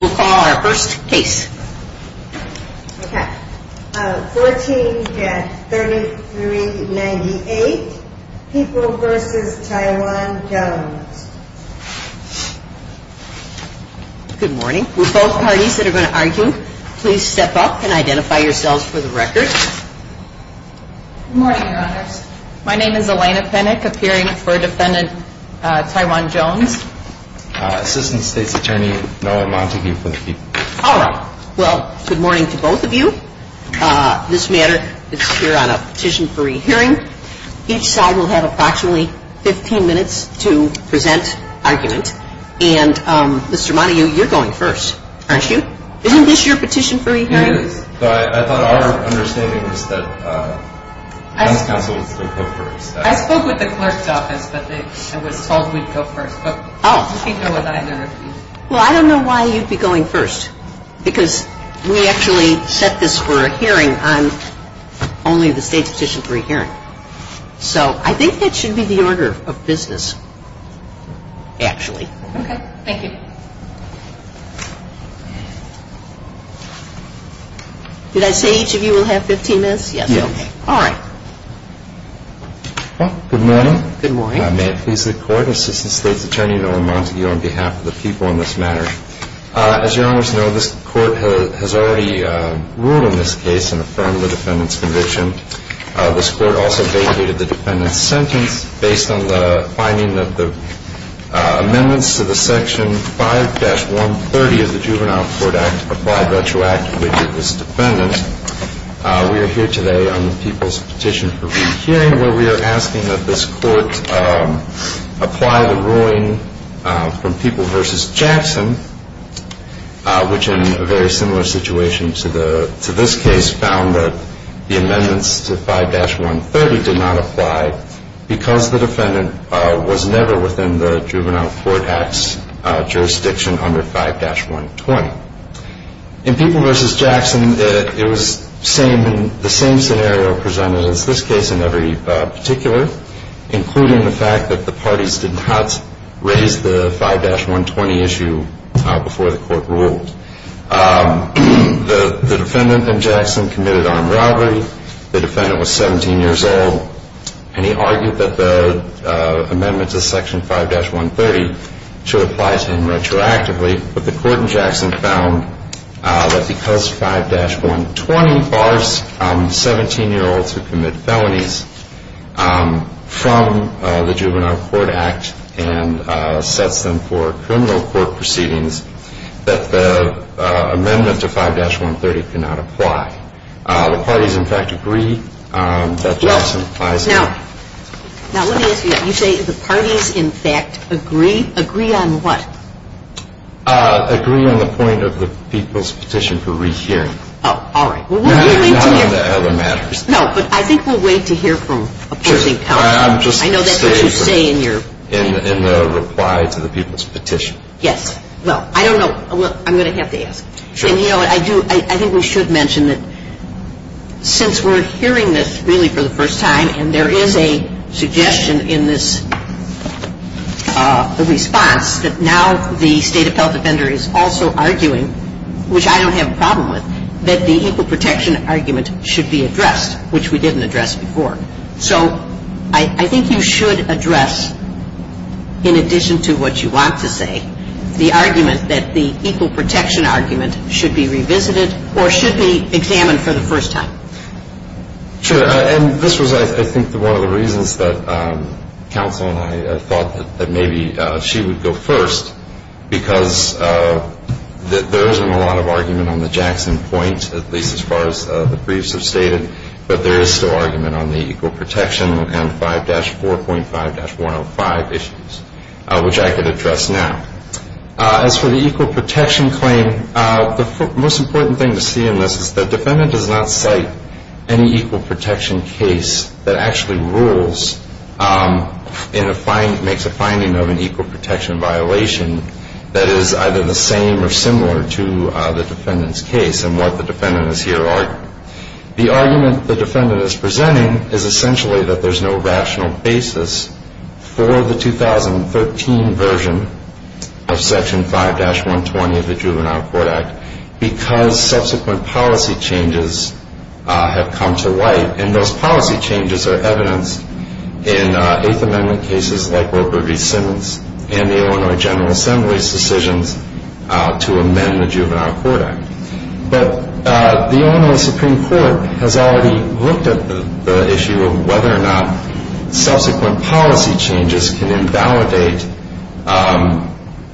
14-3398 People v. Taiwan Jones Good morning. Will both parties that are going to argue please step up and identify yourselves for the record? Good morning, Your Honors. My name is Elena Penick, appearing for Defendant Taiwan Jones. Assistant State's Attorney Noah Montague for the People. All right. Well, good morning to both of you. This matter is here on a petition for re-hearing. Each side will have approximately 15 minutes to present argument. And Mr. Montague, you're going first, aren't you? Isn't this your petition for re-hearing? It is, but I thought our understanding was that the House Counsel would go first. I spoke with the clerk's office, but I was told we'd go first. But you can go with either of you. Well, I don't know why you'd be going first. Because we actually set this for a hearing on only the State's petition for re-hearing. So I think that should be the order of business, actually. Okay. Thank you. Did I say each of you will have 15 minutes? Yes. Okay. All right. Well, good morning. Good morning. May it please the Court, Assistant State's Attorney Noah Montague on behalf of the People on this matter. As Your Honors know, this Court has already ruled on this case and affirmed the Defendant's conviction. This Court also vacated the Defendant's sentence based on the finding of the amendments to the Section 5-130 of the Juvenile Court Act Applied Retroactive We are here today on the People's petition for re-hearing where we are asking that this Court apply the ruling from People v. Jackson, which in a very similar situation to this case found that the amendments to 5-130 did not apply because the Defendant was never within the Juvenile Court Act's jurisdiction under 5-120. In People v. Jackson, it was the same scenario presented as this case in every particular, including the fact that the parties did not raise the 5-120 issue before the Court ruled. The Defendant in Jackson committed armed robbery. The Defendant was 17 years old, and he argued that the amendments to Section 5-130 should apply to him retroactively, but the Court in Jackson found that because 5-120 bars 17-year-olds who commit felonies from the Juvenile Court Act and sets them for criminal court proceedings, that the amendment to 5-130 cannot apply. The parties, in fact, agree that Jackson applies to him. Now, let me ask you, you say the parties, in fact, agree. Agree on what? Agree on the point of the People's Petition for rehearing. Oh, all right. Well, we're going to hear No, not on the other matters. No, but I think we'll wait to hear from opposing counsel. Sure. I'm just saying In the reply to the People's Petition. Yes. Well, I don't know. I'm going to have to ask. Sure. And you know what? I do. I think we should mention that since we're hearing this really for the first time, and there is a suggestion in this response that now the State Appellate Defender is also arguing, which I don't have a problem with, that the equal protection argument should be addressed, which we didn't address before. So I think you should address, in addition to what you want to say, the argument that the equal protection argument should be revisited or should be examined for the first time. Sure. And this was, I think, one of the reasons that counsel and I thought that maybe she would go first, because there isn't a lot of argument on the Jackson Point, at least as far as the briefs have stated, but there is still argument on the equal protection and 5-4.5-105 issues, which I could address now. As for the equal protection claim, the most important thing to see in this is the defendant does not cite any equal protection case that actually rules in a finding, makes a finding of an equal protection violation that is either the same or similar to the defendant's case and what the defendant is here arguing. The argument the defendant is presenting is essentially that there's no rational basis for the 2013 version of Section 5-120 of the Juvenile Court Act because subsequent policy changes have come to light, and those policy changes are evidenced in Eighth Amendment cases like Robert E. Simmons and the Illinois General Assembly's decisions to amend the Juvenile Court Act. But the Illinois Supreme Court has already looked at the issue of whether or not subsequent policy changes can invalidate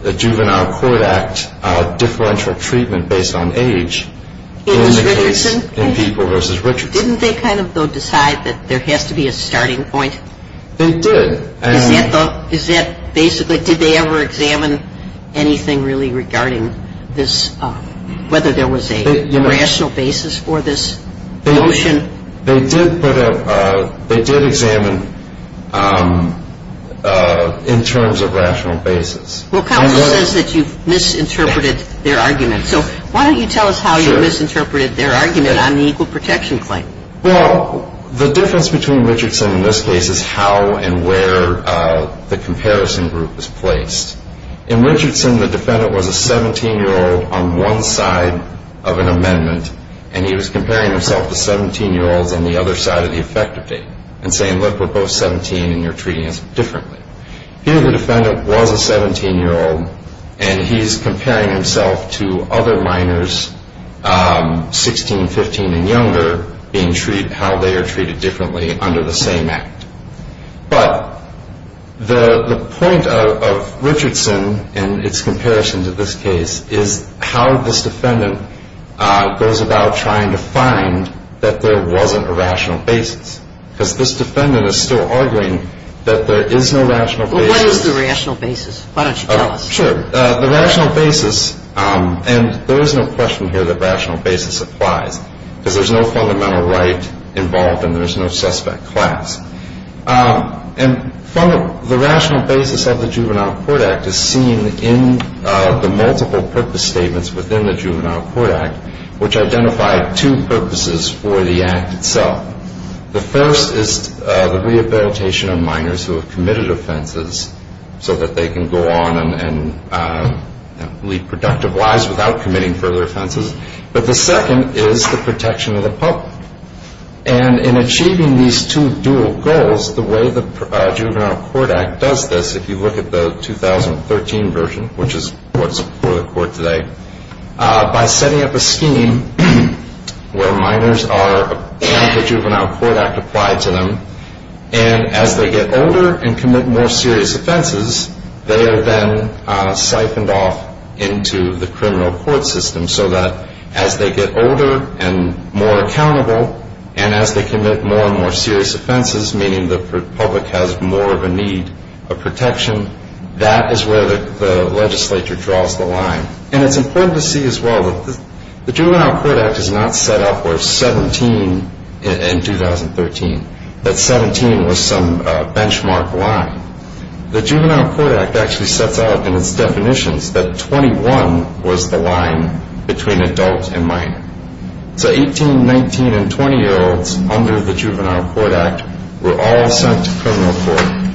the Juvenile Court Act differential treatment based on age in the case in People v. Richardson. Didn't they kind of, though, decide that there has to be a starting point? They did. Is that basically, did they ever examine anything really regarding this, whether there was a rational basis for this notion? They did put a, they did examine in terms of rational basis. Well, counsel says that you've misinterpreted their argument. So why don't you tell us how you misinterpreted their argument on the equal protection claim? Well, the difference between Richardson in this case is how and where the comparison group is placed. In Richardson, the defendant was a 17-year-old on one side of an amendment and he was comparing himself to 17-year-olds on the other side of the effective date and saying, look, we're both 17 and you're treating us differently. Here the defendant was a 17-year-old and he's comparing himself to other minors, 16, 15, and younger, being treated, how they are treated differently under the same act. But the point of Richardson in its comparison to this case is how this defendant goes about trying to find that there wasn't a rational basis. Because this defendant is still arguing that there is no rational basis. Well, what is the rational basis? Why don't you tell us? Sure. The rational basis, and there is no question here that rational basis applies, because there is no fundamental right involved and there is no suspect class. And the rational basis of the Juvenile Court Act is seen in the multiple purpose statements within the Juvenile Court Act, which identify two purposes for the act itself. The first is the rehabilitation of minors who have committed offenses so that they can go on and lead productive lives without committing further offenses. But the second is the protection of the public. And in achieving these two dual goals, the way the Juvenile Court Act does this, if you look at the 2013 version, which is what's before the court today, by setting up a scheme where minors are, the Juvenile Court Act applied to them, and as they get older and commit more serious offenses, they are then siphoned off into the criminal court system, so that as they get older and more accountable, and as they commit more and more serious offenses, meaning the public has more of a need of protection, that is where the legislature draws the line. And it's important to see as well that the Juvenile Court Act is not set up for 17 in 2013, that 17 was some benchmark line. The Juvenile Court Act actually sets out in its definitions that 21 was the line between adult and minor. So 18, 19, and 20-year-olds under the Juvenile Court Act were all sent to criminal court.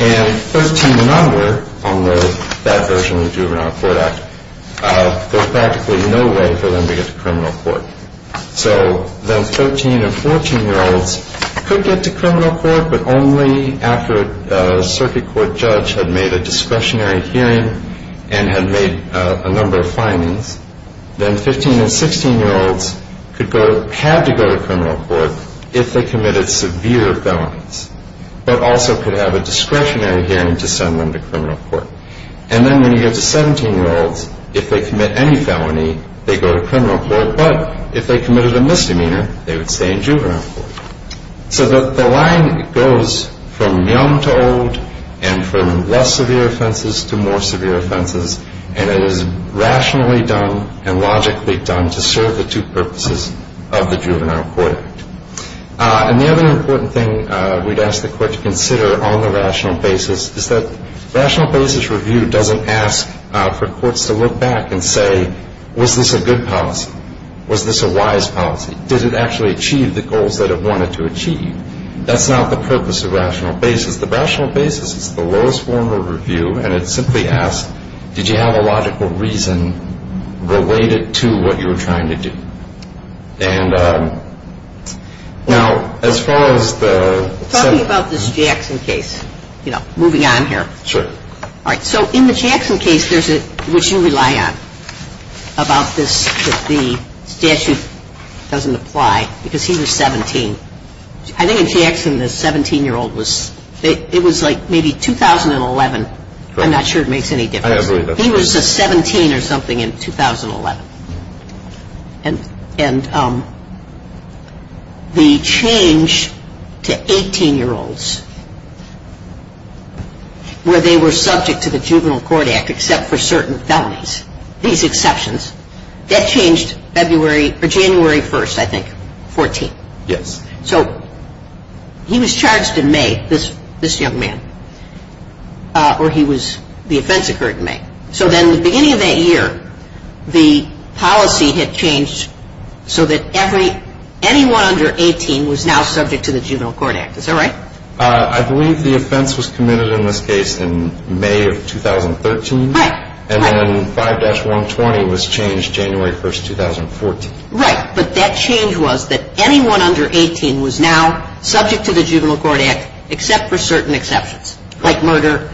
And 13 and under, on that version of the Juvenile Court Act, there's practically no way for them to get to criminal court. So then 13 and 14-year-olds could get to criminal court, but only after a circuit court judge had made a discretionary hearing and had made a number of findings. Then 15 and 16-year-olds could go, had to go to criminal court if they committed severe felonies, but also could have a discretionary hearing to send them to criminal court. And then when you get to 17-year-olds, if they commit any felony, they go to criminal court, but if they committed a misdemeanor, they would stay in juvenile court. So the line goes from young to old and from less severe offenses to more severe offenses, and it is rationally done and logically done to serve the two purposes of the Juvenile Court Act. And the other important thing we'd ask the Court to consider on the rational basis is that rational basis review doesn't ask for courts to look back and say, was this a good policy? Was this a wise policy? Did it actually achieve the goals that it wanted to achieve? That's not the purpose of rational basis. The rational basis is the lowest form of review, and it simply asks, did you have a logical reason related to what you were trying to do? And now, as far as the – Talking about this Jackson case, you know, moving on here. Sure. All right. So in the Jackson case, there's a – which you rely on about this, that the statute doesn't apply because he was 17. I think in Jackson, the 17-year-old was – it was like maybe 2011. I'm not sure it makes any difference. I agree. He was 17 or something in 2011. And the change to 18-year-olds where they were subject to the Juvenile Court Act except for certain felonies, these exceptions, that changed February – or January 1st, I think, 14th. Yes. So he was charged in May, this young man, or he was – the offense occurred in May. So then at the beginning of that year, the policy had changed so that every – anyone under 18 was now subject to the Juvenile Court Act. Is that right? I believe the offense was committed in this case in May of 2013. Right. And then 5-120 was changed January 1st, 2014. Right. But that change was that anyone under 18 was now subject to the Juvenile Court Act except for certain exceptions, like murder,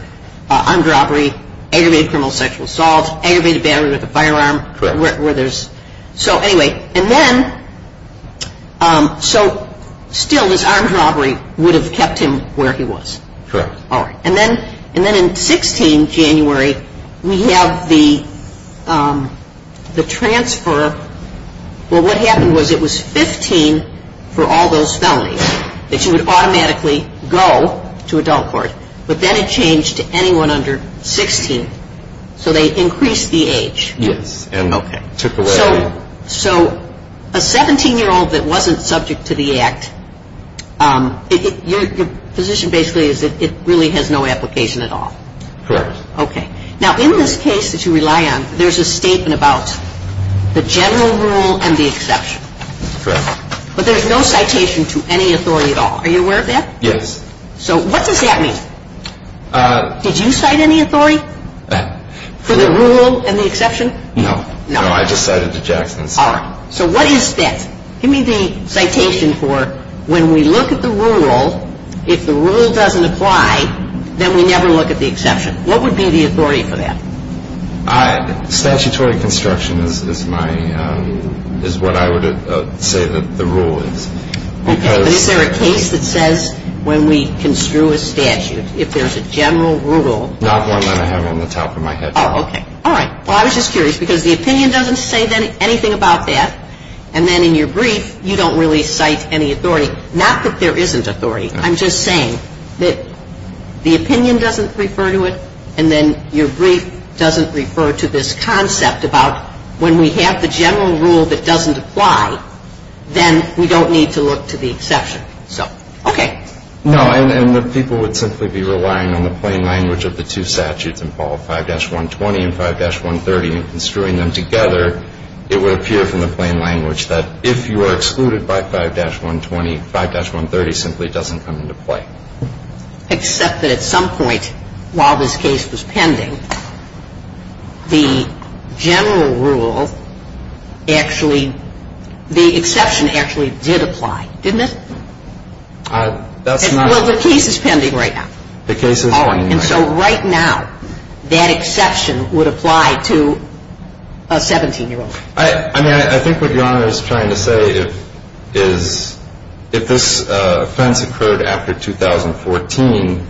armed robbery, aggravated criminal sexual assault, aggravated battery with a firearm where there's – Correct. So anyway, and then – so still this armed robbery would have kept him where he was. Correct. All right. And then in 16 January, we have the transfer. Well, what happened was it was 15 for all those felonies that you would automatically go to adult court. But then it changed to anyone under 16. So they increased the age. Yes. And, okay, took away – So a 17-year-old that wasn't subject to the act, your position basically is that it really has no application at all. Correct. Okay. Now, in this case that you rely on, there's a statement about the general rule and the exception. Correct. But there's no citation to any authority at all. Are you aware of that? Yes. So what does that mean? Did you cite any authority for the rule and the exception? No. No. No, I just cited the Jackson. All right. So what is that? Give me the citation for when we look at the rule, if the rule doesn't apply, then we never look at the exception. What would be the authority for that? Statutory construction is my – is what I would say that the rule is. Okay. But is there a case that says when we construe a statute, if there's a general rule – Not one that I have on the top of my head. Oh, okay. All right. Well, I was just curious because the opinion doesn't say anything about that, and then in your brief you don't really cite any authority. Not that there isn't authority. I'm just saying that the opinion doesn't refer to it, and then your brief doesn't refer to this concept about when we have the general rule that doesn't apply, then we don't need to look to the exception. So, okay. No, and the people would simply be relying on the plain language of the two statutes in Paul 5-120 and 5-130 and construing them together, it would appear from the plain language that if you are excluded by 5-120, 5-130 simply doesn't come into play. Except that at some point while this case was pending, the general rule actually – the exception actually did apply, didn't it? That's not – Well, the case is pending right now. The case is pending right now. Oh, and so right now that exception would apply to a 17-year-old. I mean, I think what Your Honor is trying to say is if this offense occurred after 2014,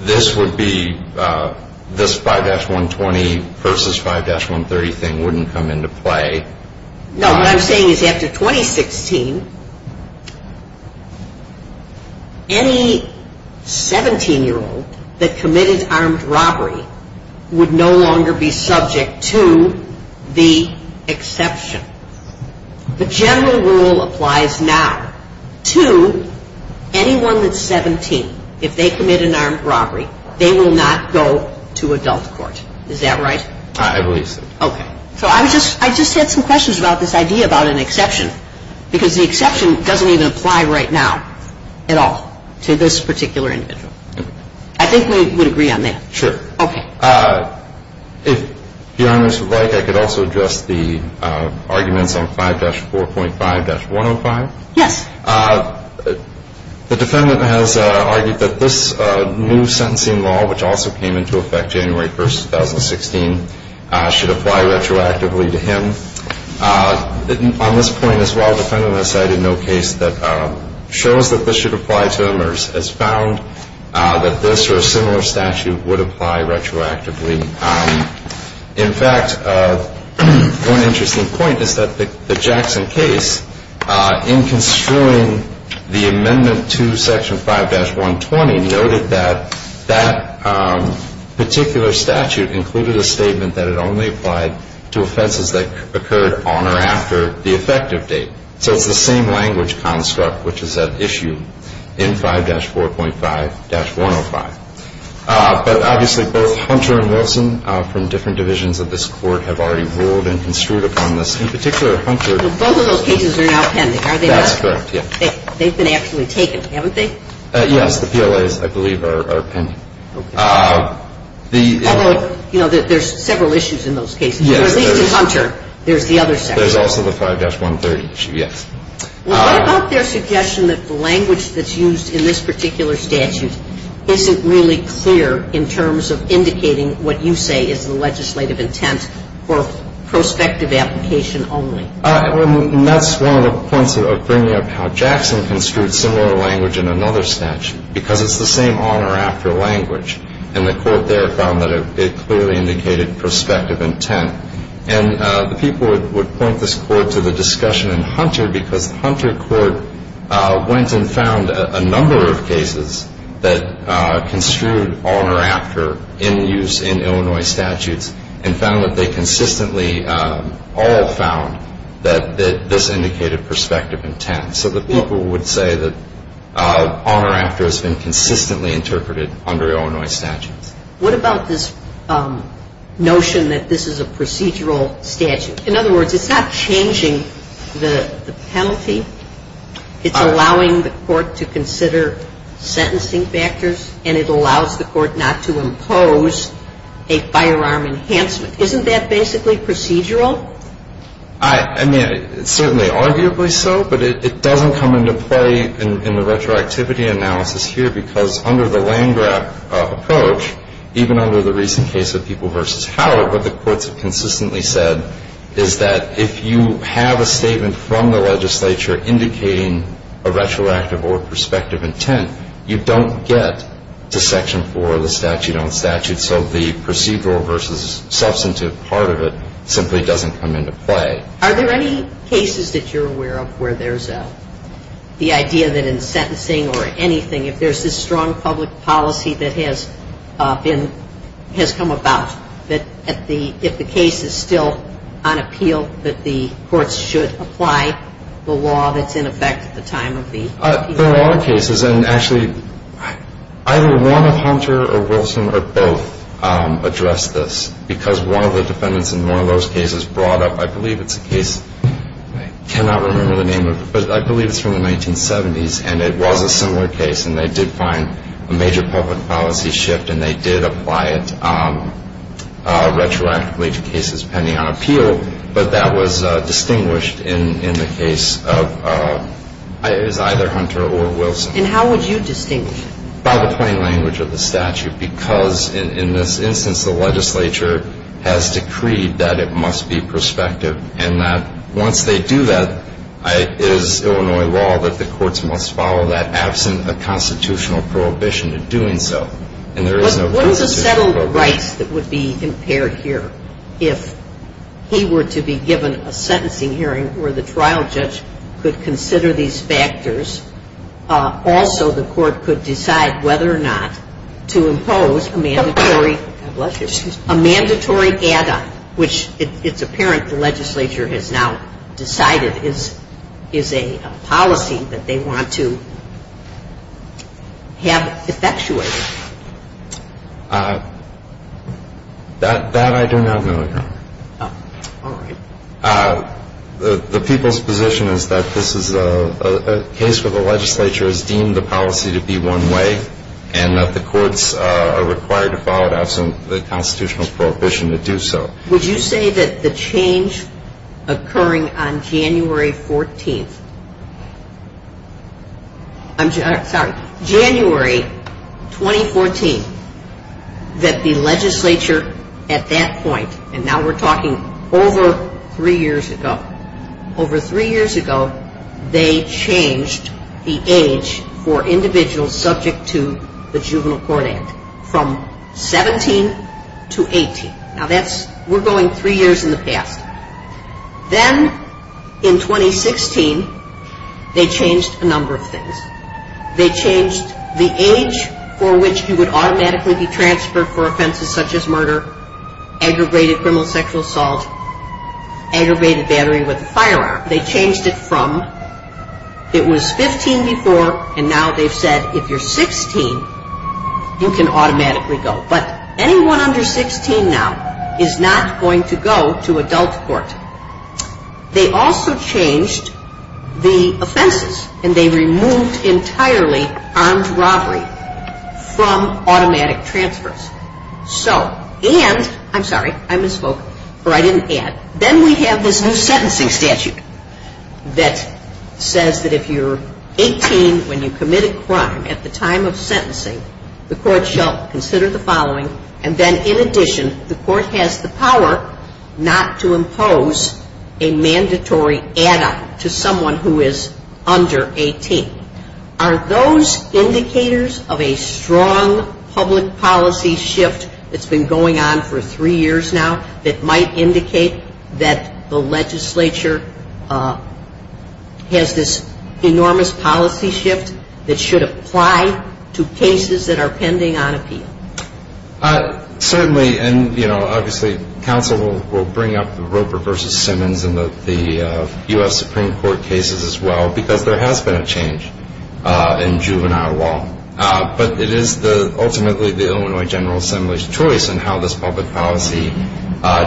this would be – this 5-120 versus 5-130 thing wouldn't come into play. No, what I'm saying is after 2016, any 17-year-old that committed armed robbery would no longer be subject to the exception. The general rule applies now to anyone that's 17. If they commit an armed robbery, they will not go to adult court. Is that right? I believe so. Okay. So I just had some questions about this idea about an exception, because the exception doesn't even apply right now at all to this particular individual. I think we would agree on that. Sure. Okay. If Your Honors would like, I could also address the arguments on 5-4.5-105. Yes. The defendant has argued that this new sentencing law, which also came into effect January 1, 2016, should apply retroactively to him. On this point as well, the defendant has cited no case that shows that this should apply to him or has found that this or a similar statute would apply retroactively. In fact, one interesting point is that the Jackson case, in construing the amendment to Section 5-120, noted that that particular statute included a statement that it only applied to offenses that occurred on or after the effective date. So it's the same language construct which is at issue in 5-4.5-105. But obviously both Hunter and Wilson from different divisions of this court have already ruled and construed upon this. And the particular Hunter Both of those cases are now pending, are they not? That's correct, yes. They've been actually taken, haven't they? Yes. The PLAs, I believe, are pending. Okay. Although, you know, there's several issues in those cases. Yes. At least in Hunter, there's the other section. There's also the 5-130 issue, yes. What about their suggestion that the language that's used in this particular statute isn't really clear in terms of indicating what you say is the legislative intent or prospective application only? And that's one of the points of bringing up how Jackson construed similar language in another statute because it's the same on or after language. And the court there found that it clearly indicated prospective intent. And the people would point this court to the discussion in Hunter because the Hunter court went and found a number of cases that construed on or after in use in Illinois statutes and found that they consistently all found that this indicated prospective intent. So the people would say that on or after has been consistently interpreted under Illinois statutes. What about this notion that this is a procedural statute? In other words, it's not changing the penalty. It's allowing the court to consider sentencing factors, and it allows the court not to impose a firearm enhancement. Isn't that basically procedural? I mean, it's certainly arguably so, but it doesn't come into play in the retroactivity analysis here because under the Landgraf approach, even under the recent case of People v. Howard, what the courts have consistently said is that if you have a statement from the legislature indicating a retroactive or prospective intent, you don't get to Section 4 of the statute on statute. So the procedural versus substantive part of it simply doesn't come into play. Are there any cases that you're aware of where there's the idea that in sentencing or anything, if there's this strong public policy that has come about, that if the case is still on appeal, that the courts should apply the law that's in effect at the time of the appeal? There are cases, and actually either one of Hunter or Wilson or both addressed this because one of the defendants in one of those cases brought up, I believe it's a case, I cannot remember the name of it, but I believe it's from the 1970s, and it was a similar case and they did find a major public policy shift and they did apply it. There were some retroactive cases pending on appeal, but that was distinguished in the case of either Hunter or Wilson. And how would you distinguish it? By the plain language of the statute because in this instance, the legislature has decreed that it must be prospective and that once they do that, it is Illinois law that the courts must follow that absent a constitutional prohibition to doing so. But what is the settled rights that would be impaired here? If he were to be given a sentencing hearing where the trial judge could consider these factors, also the court could decide whether or not to impose a mandatory add-on, which it's apparent the legislature has now decided is a policy that they want to have effectuated. That I do not know, Your Honor. All right. The people's position is that this is a case where the legislature has deemed the policy to be one way and that the courts are required to follow it absent the constitutional prohibition to do so. Would you say that the change occurring on January 14th, I'm sorry, January 2014, that the legislature at that point, and now we're talking over three years ago, over three years ago, they changed the age for individuals subject to the Juvenile Court Act from 17 to 18. Now that's, we're going three years in the past. Then in 2016, they changed a number of things. They changed the age for which he would automatically be transferred for offenses such as murder, aggravated criminal sexual assault, aggravated battery with a firearm. They changed it from, it was 15 before, and now they've said if you're 16, you can automatically go. But anyone under 16 now is not going to go to adult court. They also changed the offenses, and they removed entirely armed robbery from automatic transfers. So, and, I'm sorry, I misspoke, or I didn't add, then we have this new sentencing statute that says that if you're 18 when you commit a crime at the time of sentencing, the court shall consider the following, and then in addition, the court has the power not to impose a mandatory add-on to someone who is under 18. Are those indicators of a strong public policy shift that's been going on for three years now that might indicate that the legislature has this enormous policy shift that should apply to cases that are pending on appeal? Certainly, and, you know, obviously counsel will bring up the Roper v. Simmons and the U.S. Supreme Court cases as well because there has been a change in juvenile law. But it is ultimately the Illinois General Assembly's choice in how this public policy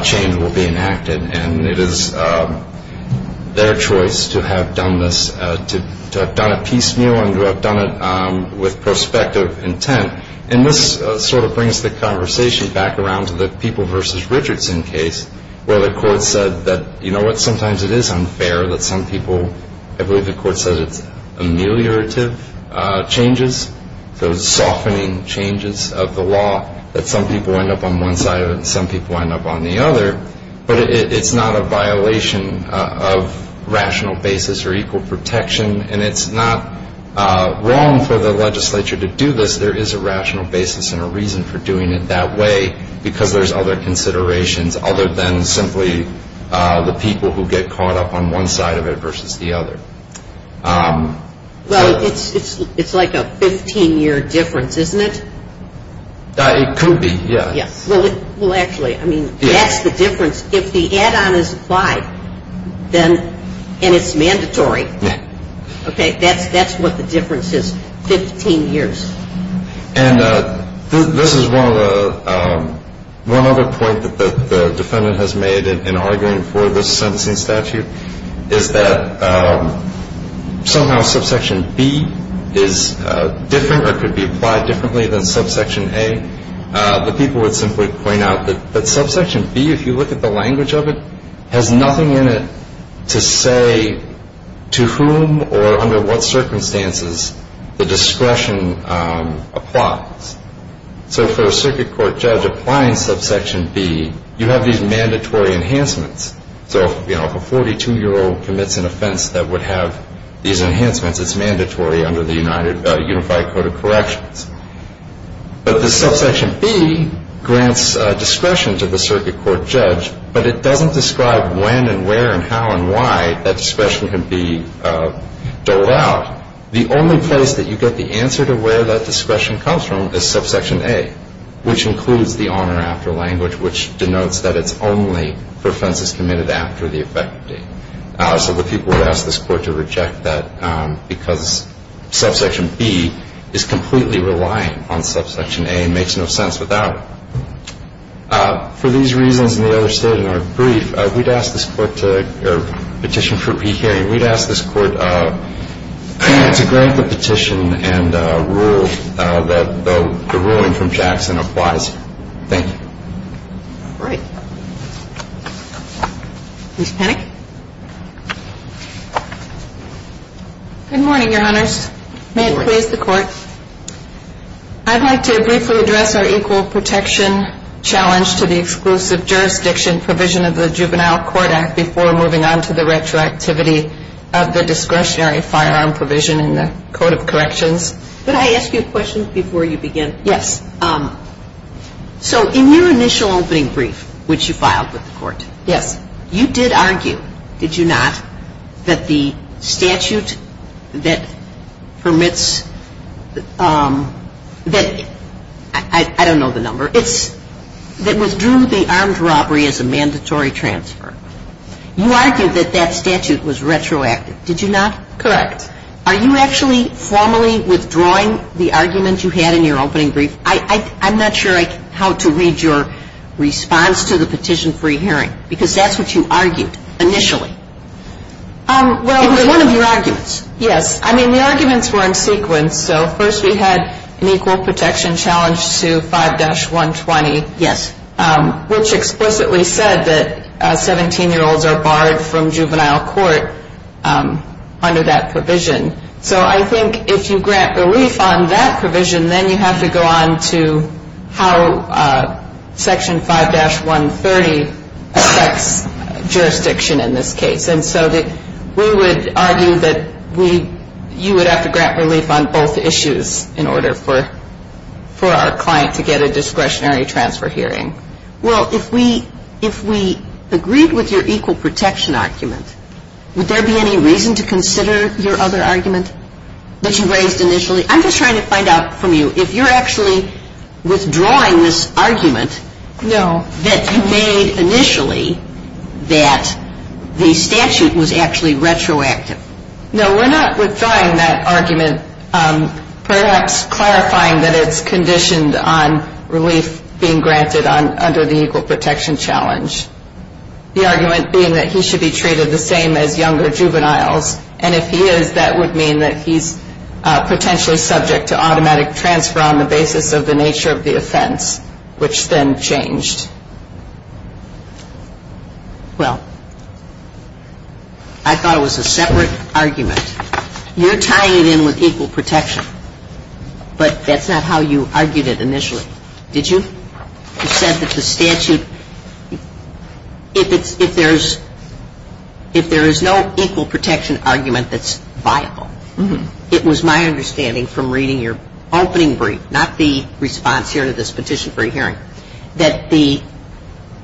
change will be enacted, and it is their choice to have done this, to have done it piecemeal and to have done it with prospective intent. And this sort of brings the conversation back around to the People v. Richardson case where the court said that, you know what, sometimes it is unfair that some people, I believe the court said it's ameliorative changes, so softening changes of the law, that some people end up on one side of it and some people end up on the other. But it's not a violation of rational basis or equal protection, and it's not wrong for the legislature to do this. There is a rational basis and a reason for doing it that way because there's other considerations other than simply the people who get caught up on one side of it versus the other. Well, it's like a 15-year difference, isn't it? It could be, yes. Well, actually, I mean, that's the difference. If the add-on is applied and it's mandatory, okay, that's what the difference is, 15 years. And this is one other point that the defendant has made in arguing for this sentencing statute, is that somehow subsection B is different or could be applied differently than subsection A. But people would simply point out that subsection B, if you look at the language of it, has nothing in it to say to whom or under what circumstances the discretion applies. So for a circuit court judge applying subsection B, you have these mandatory enhancements. So if a 42-year-old commits an offense that would have these enhancements, it's mandatory under the Unified Code of Corrections. But the subsection B grants discretion to the circuit court judge, but it doesn't describe when and where and how and why that discretion can be doled out. The only place that you get the answer to where that discretion comes from is subsection A, which includes the on or after language, which denotes that it's only for offenses committed after the effective date. So the people would ask this Court to reject that because subsection B is completely relying on subsection A and makes no sense without it. For these reasons and the other state in our brief, we'd ask this Court to petition for pre-hearing. We'd ask this Court to grant the petition and rule that the ruling from Jackson applies. Thank you. Ms. Panik. Good morning, Your Honors. Good morning. May it please the Court. I'd like to briefly address our equal protection challenge to the exclusive jurisdiction provision of the Juvenile Court Act before moving on to the retroactivity of the discretionary firearm provision in the Code of Corrections. Could I ask you a question before you begin? Yes. So in your initial opening brief, which you filed with the Court. Yes. You did argue, did you not, that the statute that permits that I don't know the number. It's that withdrew the armed robbery as a mandatory transfer. You argued that that statute was retroactive. Did you not? Correct. Are you actually formally withdrawing the argument you had in your opening brief? I'm not sure how to read your response to the petition for pre-hearing because that's what you argued initially. It was one of your arguments. Yes. I mean, the arguments were in sequence. So first we had an equal protection challenge to 5-120. Yes. Which explicitly said that 17-year-olds are barred from juvenile court under that provision. So I think if you grant relief on that provision, then you have to go on to how Section 5-130 affects jurisdiction in this case. And so we would argue that you would have to grant relief on both issues in order for our client to get a discretionary transfer hearing. Well, if we agreed with your equal protection argument, would there be any reason to consider your other argument that you raised initially? I'm just trying to find out from you if you're actually withdrawing this argument that you made initially that the statute was actually retroactive. No, we're not withdrawing that argument, perhaps clarifying that it's conditioned on relief being granted under the equal protection challenge. The argument being that he should be treated the same as younger juveniles. And if he is, that would mean that he's potentially subject to automatic transfer on the basis of the nature of the offense, which then changed. Well, I thought it was a separate argument. You're tying it in with equal protection, but that's not how you argued it initially. Did you? You said that the statute, if it's, if there's, if there is no equal protection argument that's viable, it was my understanding from reading your opening brief, not the response here to this petition for a hearing, that the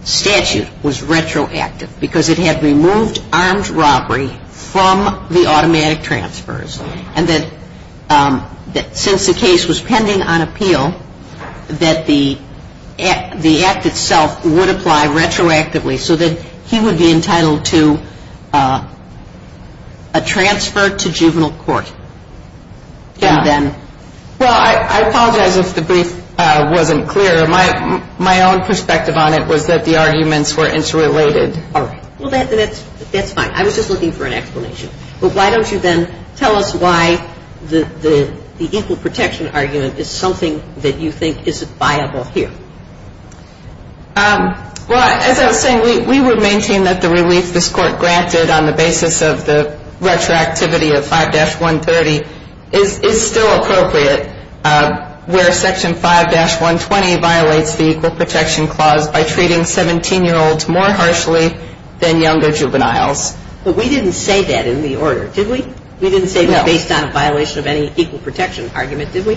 statute was retroactive because it had removed armed robbery from the automatic transfers. And that since the case was pending on appeal, that the act itself would apply retroactively so that he would be entitled to a transfer to juvenile court. Yeah. And then. Well, I apologize if the brief wasn't clear. My own perspective on it was that the arguments were interrelated. All right. Well, that's fine. I was just looking for an explanation. But why don't you then tell us why the equal protection argument is something that you think isn't viable here. Well, as I was saying, we would maintain that the relief this court granted on the basis of the retroactivity of 5-130 is still appropriate where Section 5-120 violates the equal protection clause by treating 17-year-olds more harshly than younger juveniles. But we didn't say that in the order, did we? No. We didn't say that based on a violation of any equal protection argument, did we?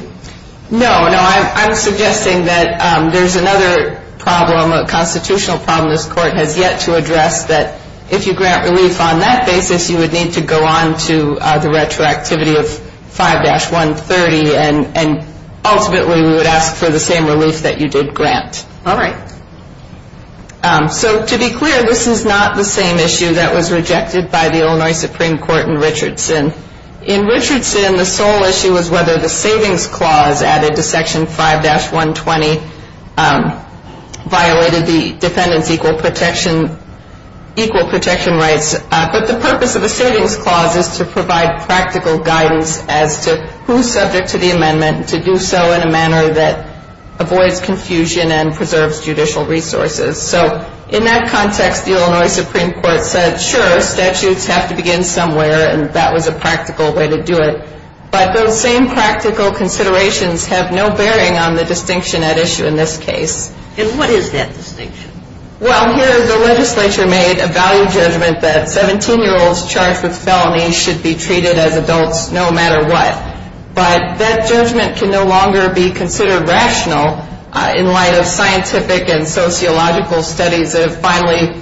No, no. I'm suggesting that there's another problem, a constitutional problem this court has yet to address that if you grant relief on that basis, you would need to go on to the retroactivity of 5-130 and ultimately we would ask for the same relief that you did grant. All right. So to be clear, this is not the same issue that was rejected by the Illinois Supreme Court in Richardson. In Richardson, the sole issue is whether the savings clause added to Section 5-120 violated the defendant's equal protection rights. But the purpose of the savings clause is to provide practical guidance as to who's subject to the amendment to do so in a manner that avoids confusion and preserves judicial resources. So in that context, the Illinois Supreme Court said, sure, statutes have to begin somewhere, and that was a practical way to do it. But those same practical considerations have no bearing on the distinction at issue in this case. And what is that distinction? Well, here the legislature made a value judgment that 17-year-olds charged with felonies should be treated as adults no matter what. But that judgment can no longer be considered rational in light of scientific and sociological studies that have finally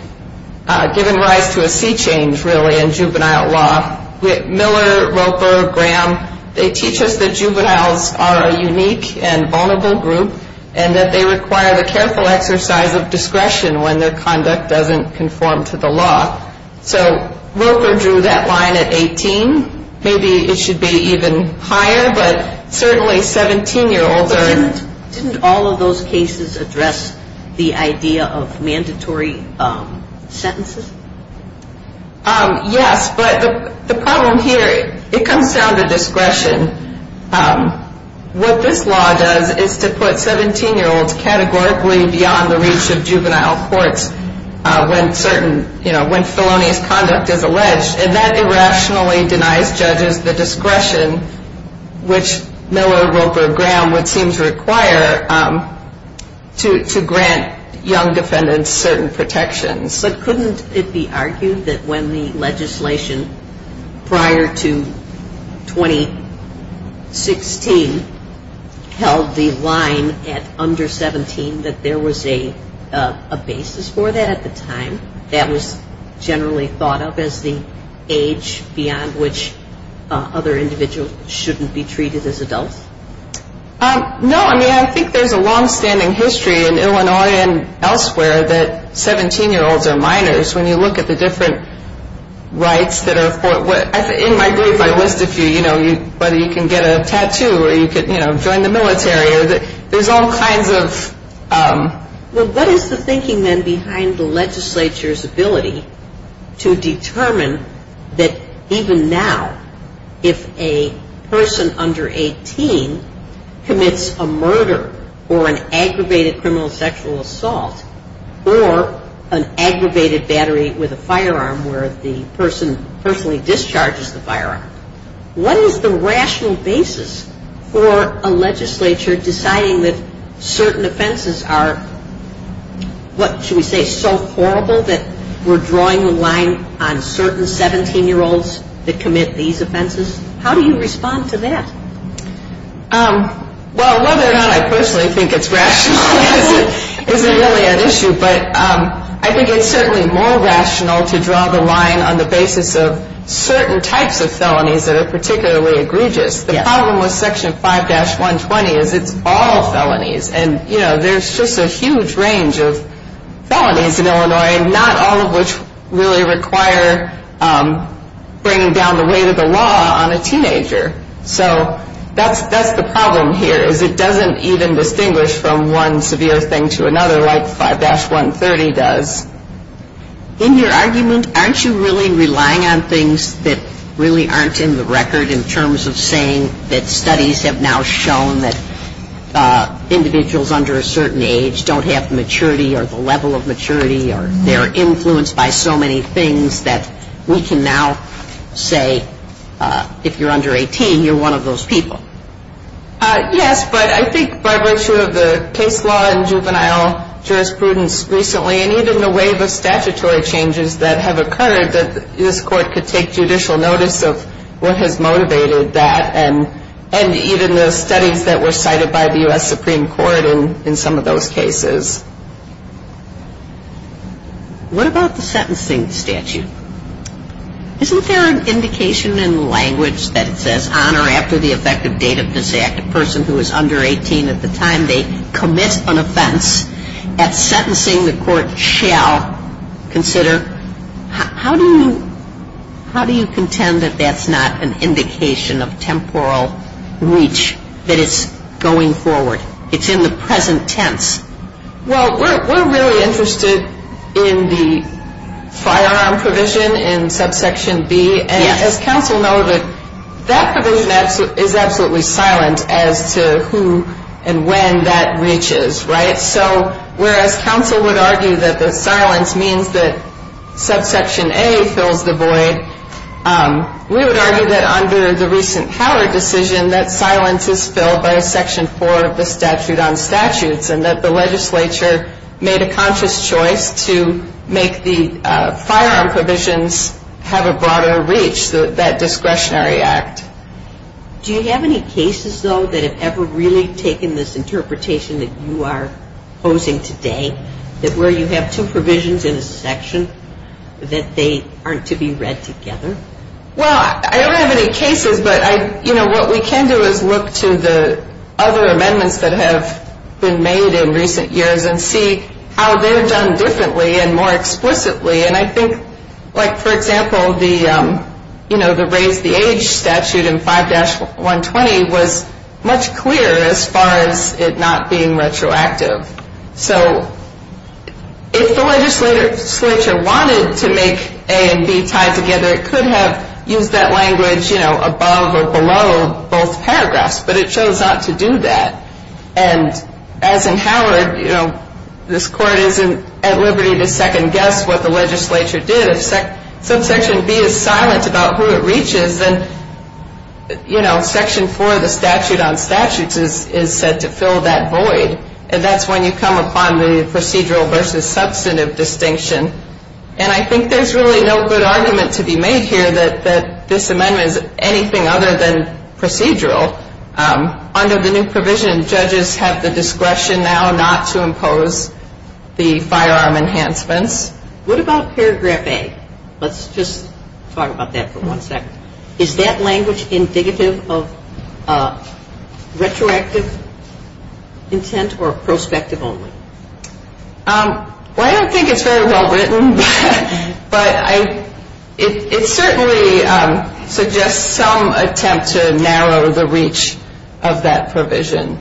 given rise to a sea change, really, in juvenile law. Miller, Roper, Graham, they teach us that juveniles are a unique and vulnerable group and that they require the careful exercise of discretion when their conduct doesn't conform to the law. So Roper drew that line at 18. Maybe it should be even higher, but certainly 17-year-olds are at 17. Didn't all of those cases address the idea of mandatory sentences? Yes, but the problem here, it comes down to discretion. What this law does is to put 17-year-olds categorically beyond the reach of juvenile courts when felonious conduct is alleged, and that irrationally denies judges the discretion which Miller, Roper, Graham would seem to require to grant young defendants certain protections. But couldn't it be argued that when the legislation prior to 2016 held the line at under 17 that there was a basis for that at the time? That was generally thought of as the age beyond which other individuals shouldn't be treated as adults? No, I mean, I think there's a long-standing history in Illinois and elsewhere that 17-year-olds are minors. When you look at the different rights that are afforded, in my brief I list a few, whether you can get a tattoo or you can join the military, there's all kinds of... Well, what is the thinking then behind the legislature's ability to determine that even now if a person under 18 commits a murder or an aggravated criminal sexual assault or an aggravated battery with a firearm where the person personally discharges the firearm, what is the rational basis for a legislature deciding that certain offenses are, what should we say, so horrible that we're drawing the line on certain 17-year-olds that commit these offenses? How do you respond to that? Well, whether or not I personally think it's rational isn't really an issue, but I think it's certainly more rational to draw the line on the basis of certain types of felonies that are particularly egregious. The problem with Section 5-120 is it's all felonies, and there's just a huge range of felonies in Illinois, not all of which really require bringing down the weight of the law on a teenager. So that's the problem here is it doesn't even distinguish from one severe thing to another like 5-130 does. In your argument, aren't you really relying on things that really aren't in the record in terms of saying that studies have now shown that individuals under a certain age don't have maturity or the level of maturity or they're influenced by so many things that we can now say, if you're under 18, you're one of those people? Yes, but I think by virtue of the case law and juvenile jurisprudence recently and even the wave of statutory changes that have occurred, that this Court could take judicial notice of what has motivated that and even the studies that were cited by the U.S. Supreme Court in some of those cases. What about the sentencing statute? Isn't there an indication in the language that it says on or after the effective date of this act, a person who is under 18 at the time they commit an offense, at sentencing the Court shall consider? How do you contend that that's not an indication of temporal reach, that it's going forward? It's in the present tense. Well, we're really interested in the firearm provision in subsection B. And as counsel noted, that provision is absolutely silent as to who and when that reaches, right? So whereas counsel would argue that the silence means that subsection A fills the void, we would argue that under the recent Howard decision, that silence is filled by a section four of the statute on statutes and that the legislature made a conscious choice to make the firearm provisions have a broader reach, that discretionary act. Do you have any cases, though, that have ever really taken this interpretation that you are posing today, that where you have two provisions in a section, that they aren't to be read together? Well, I don't have any cases. But, you know, what we can do is look to the other amendments that have been made in recent years and see how they're done differently and more explicitly. And I think, like, for example, the raise the age statute in 5-120 was much clearer as far as it not being retroactive. So if the legislature wanted to make A and B tied together, it could have used that language, you know, above or below both paragraphs. But it chose not to do that. And as in Howard, you know, this court isn't at liberty to second guess what the legislature did. If subsection B is silent about who it reaches, then, you know, section four of the statute on statutes is said to fill that void. And that's when you come upon the procedural versus substantive distinction. And I think there's really no good argument to be made here that this amendment is anything other than procedural. Under the new provision, judges have the discretion now not to impose the firearm enhancements. What about paragraph A? Let's just talk about that for one second. Is that language indicative of retroactive intent or prospective only? Well, I don't think it's very well written. But it certainly suggests some attempt to narrow the reach of that provision.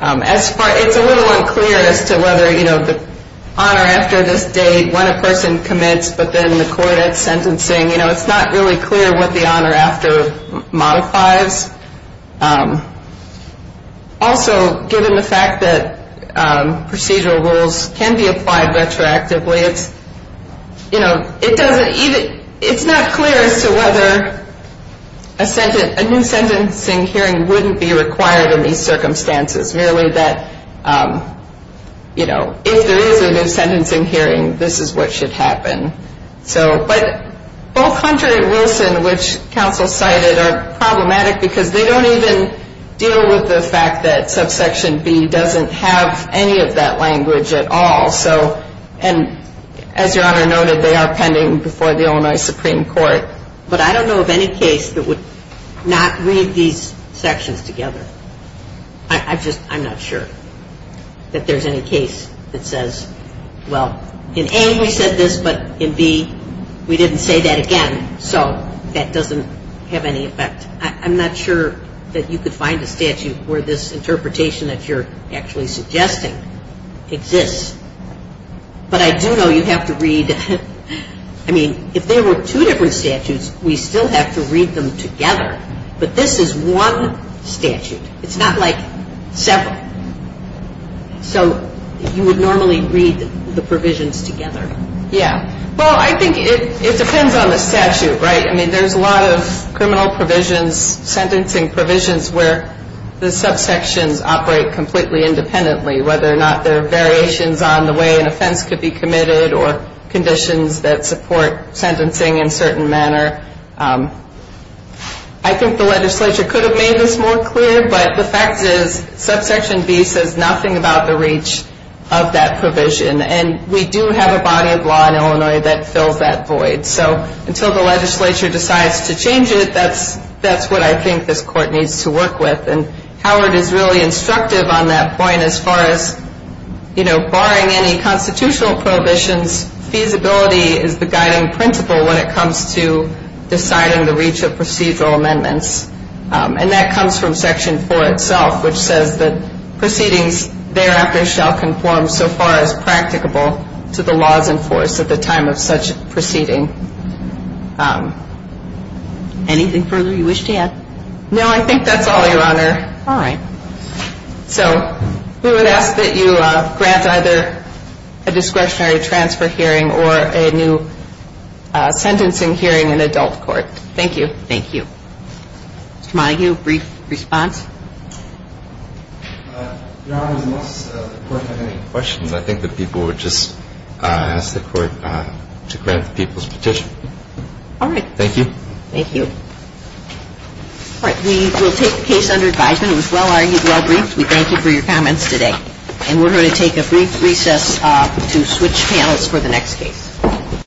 It's a little unclear as to whether, you know, the honor after this date, when a person commits, but then the court at sentencing. You know, it's not really clear what the honor after modifies. Also, given the fact that procedural rules can be applied retroactively, it's, you know, it doesn't even, it's not clear as to whether a sentence, a new sentencing hearing wouldn't be required in these circumstances. Really that, you know, if there is a new sentencing hearing, this is what should happen. But both Hunter and Wilson, which counsel cited, are problematic because they don't even deal with the fact that subsection B doesn't have any of that language at all. So, and as your honor noted, they are pending before the Illinois Supreme Court. But I don't know of any case that would not read these sections together. I just, I'm not sure that there's any case that says, well, in A we said this, but in B we didn't say that again. So that doesn't have any effect. I'm not sure that you could find a statute where this interpretation that you're actually suggesting exists. But I do know you have to read, I mean, if there were two different statutes, we still have to read them together. But this is one statute. It's not like several. So you would normally read the provisions together. Yeah. Well, I think it depends on the statute, right? I mean, there's a lot of criminal provisions, sentencing provisions where the subsections operate completely independently, whether or not there are variations on the way an offense could be committed or conditions that support sentencing in a certain manner. I think the legislature could have made this more clear, but the fact is subsection B says nothing about the reach of that provision. And we do have a body of law in Illinois that fills that void. So until the legislature decides to change it, that's what I think this court needs to work with. And Howard is really instructive on that point as far as, you know, barring any constitutional prohibitions, feasibility is the guiding principle when it comes to deciding the reach of procedural amendments. And that comes from Section 4 itself, which says that proceedings thereafter shall conform so far as practicable to the laws in force at the time of such proceeding. Anything further you wish to add? No, I think that's all, Your Honor. All right. So we would ask that you grant either a discretionary transfer hearing or a new sentencing hearing in adult court. Thank you. Thank you. Mr. Montague, brief response? Your Honor, unless the Court had any questions, I think that people would just ask the Court to grant the people's petition. All right. Thank you. Thank you. All right. We will take the case under advisement. It was well-argued, well-briefed. We thank you for your comments today. And we're going to take a brief recess to switch panels for the next case.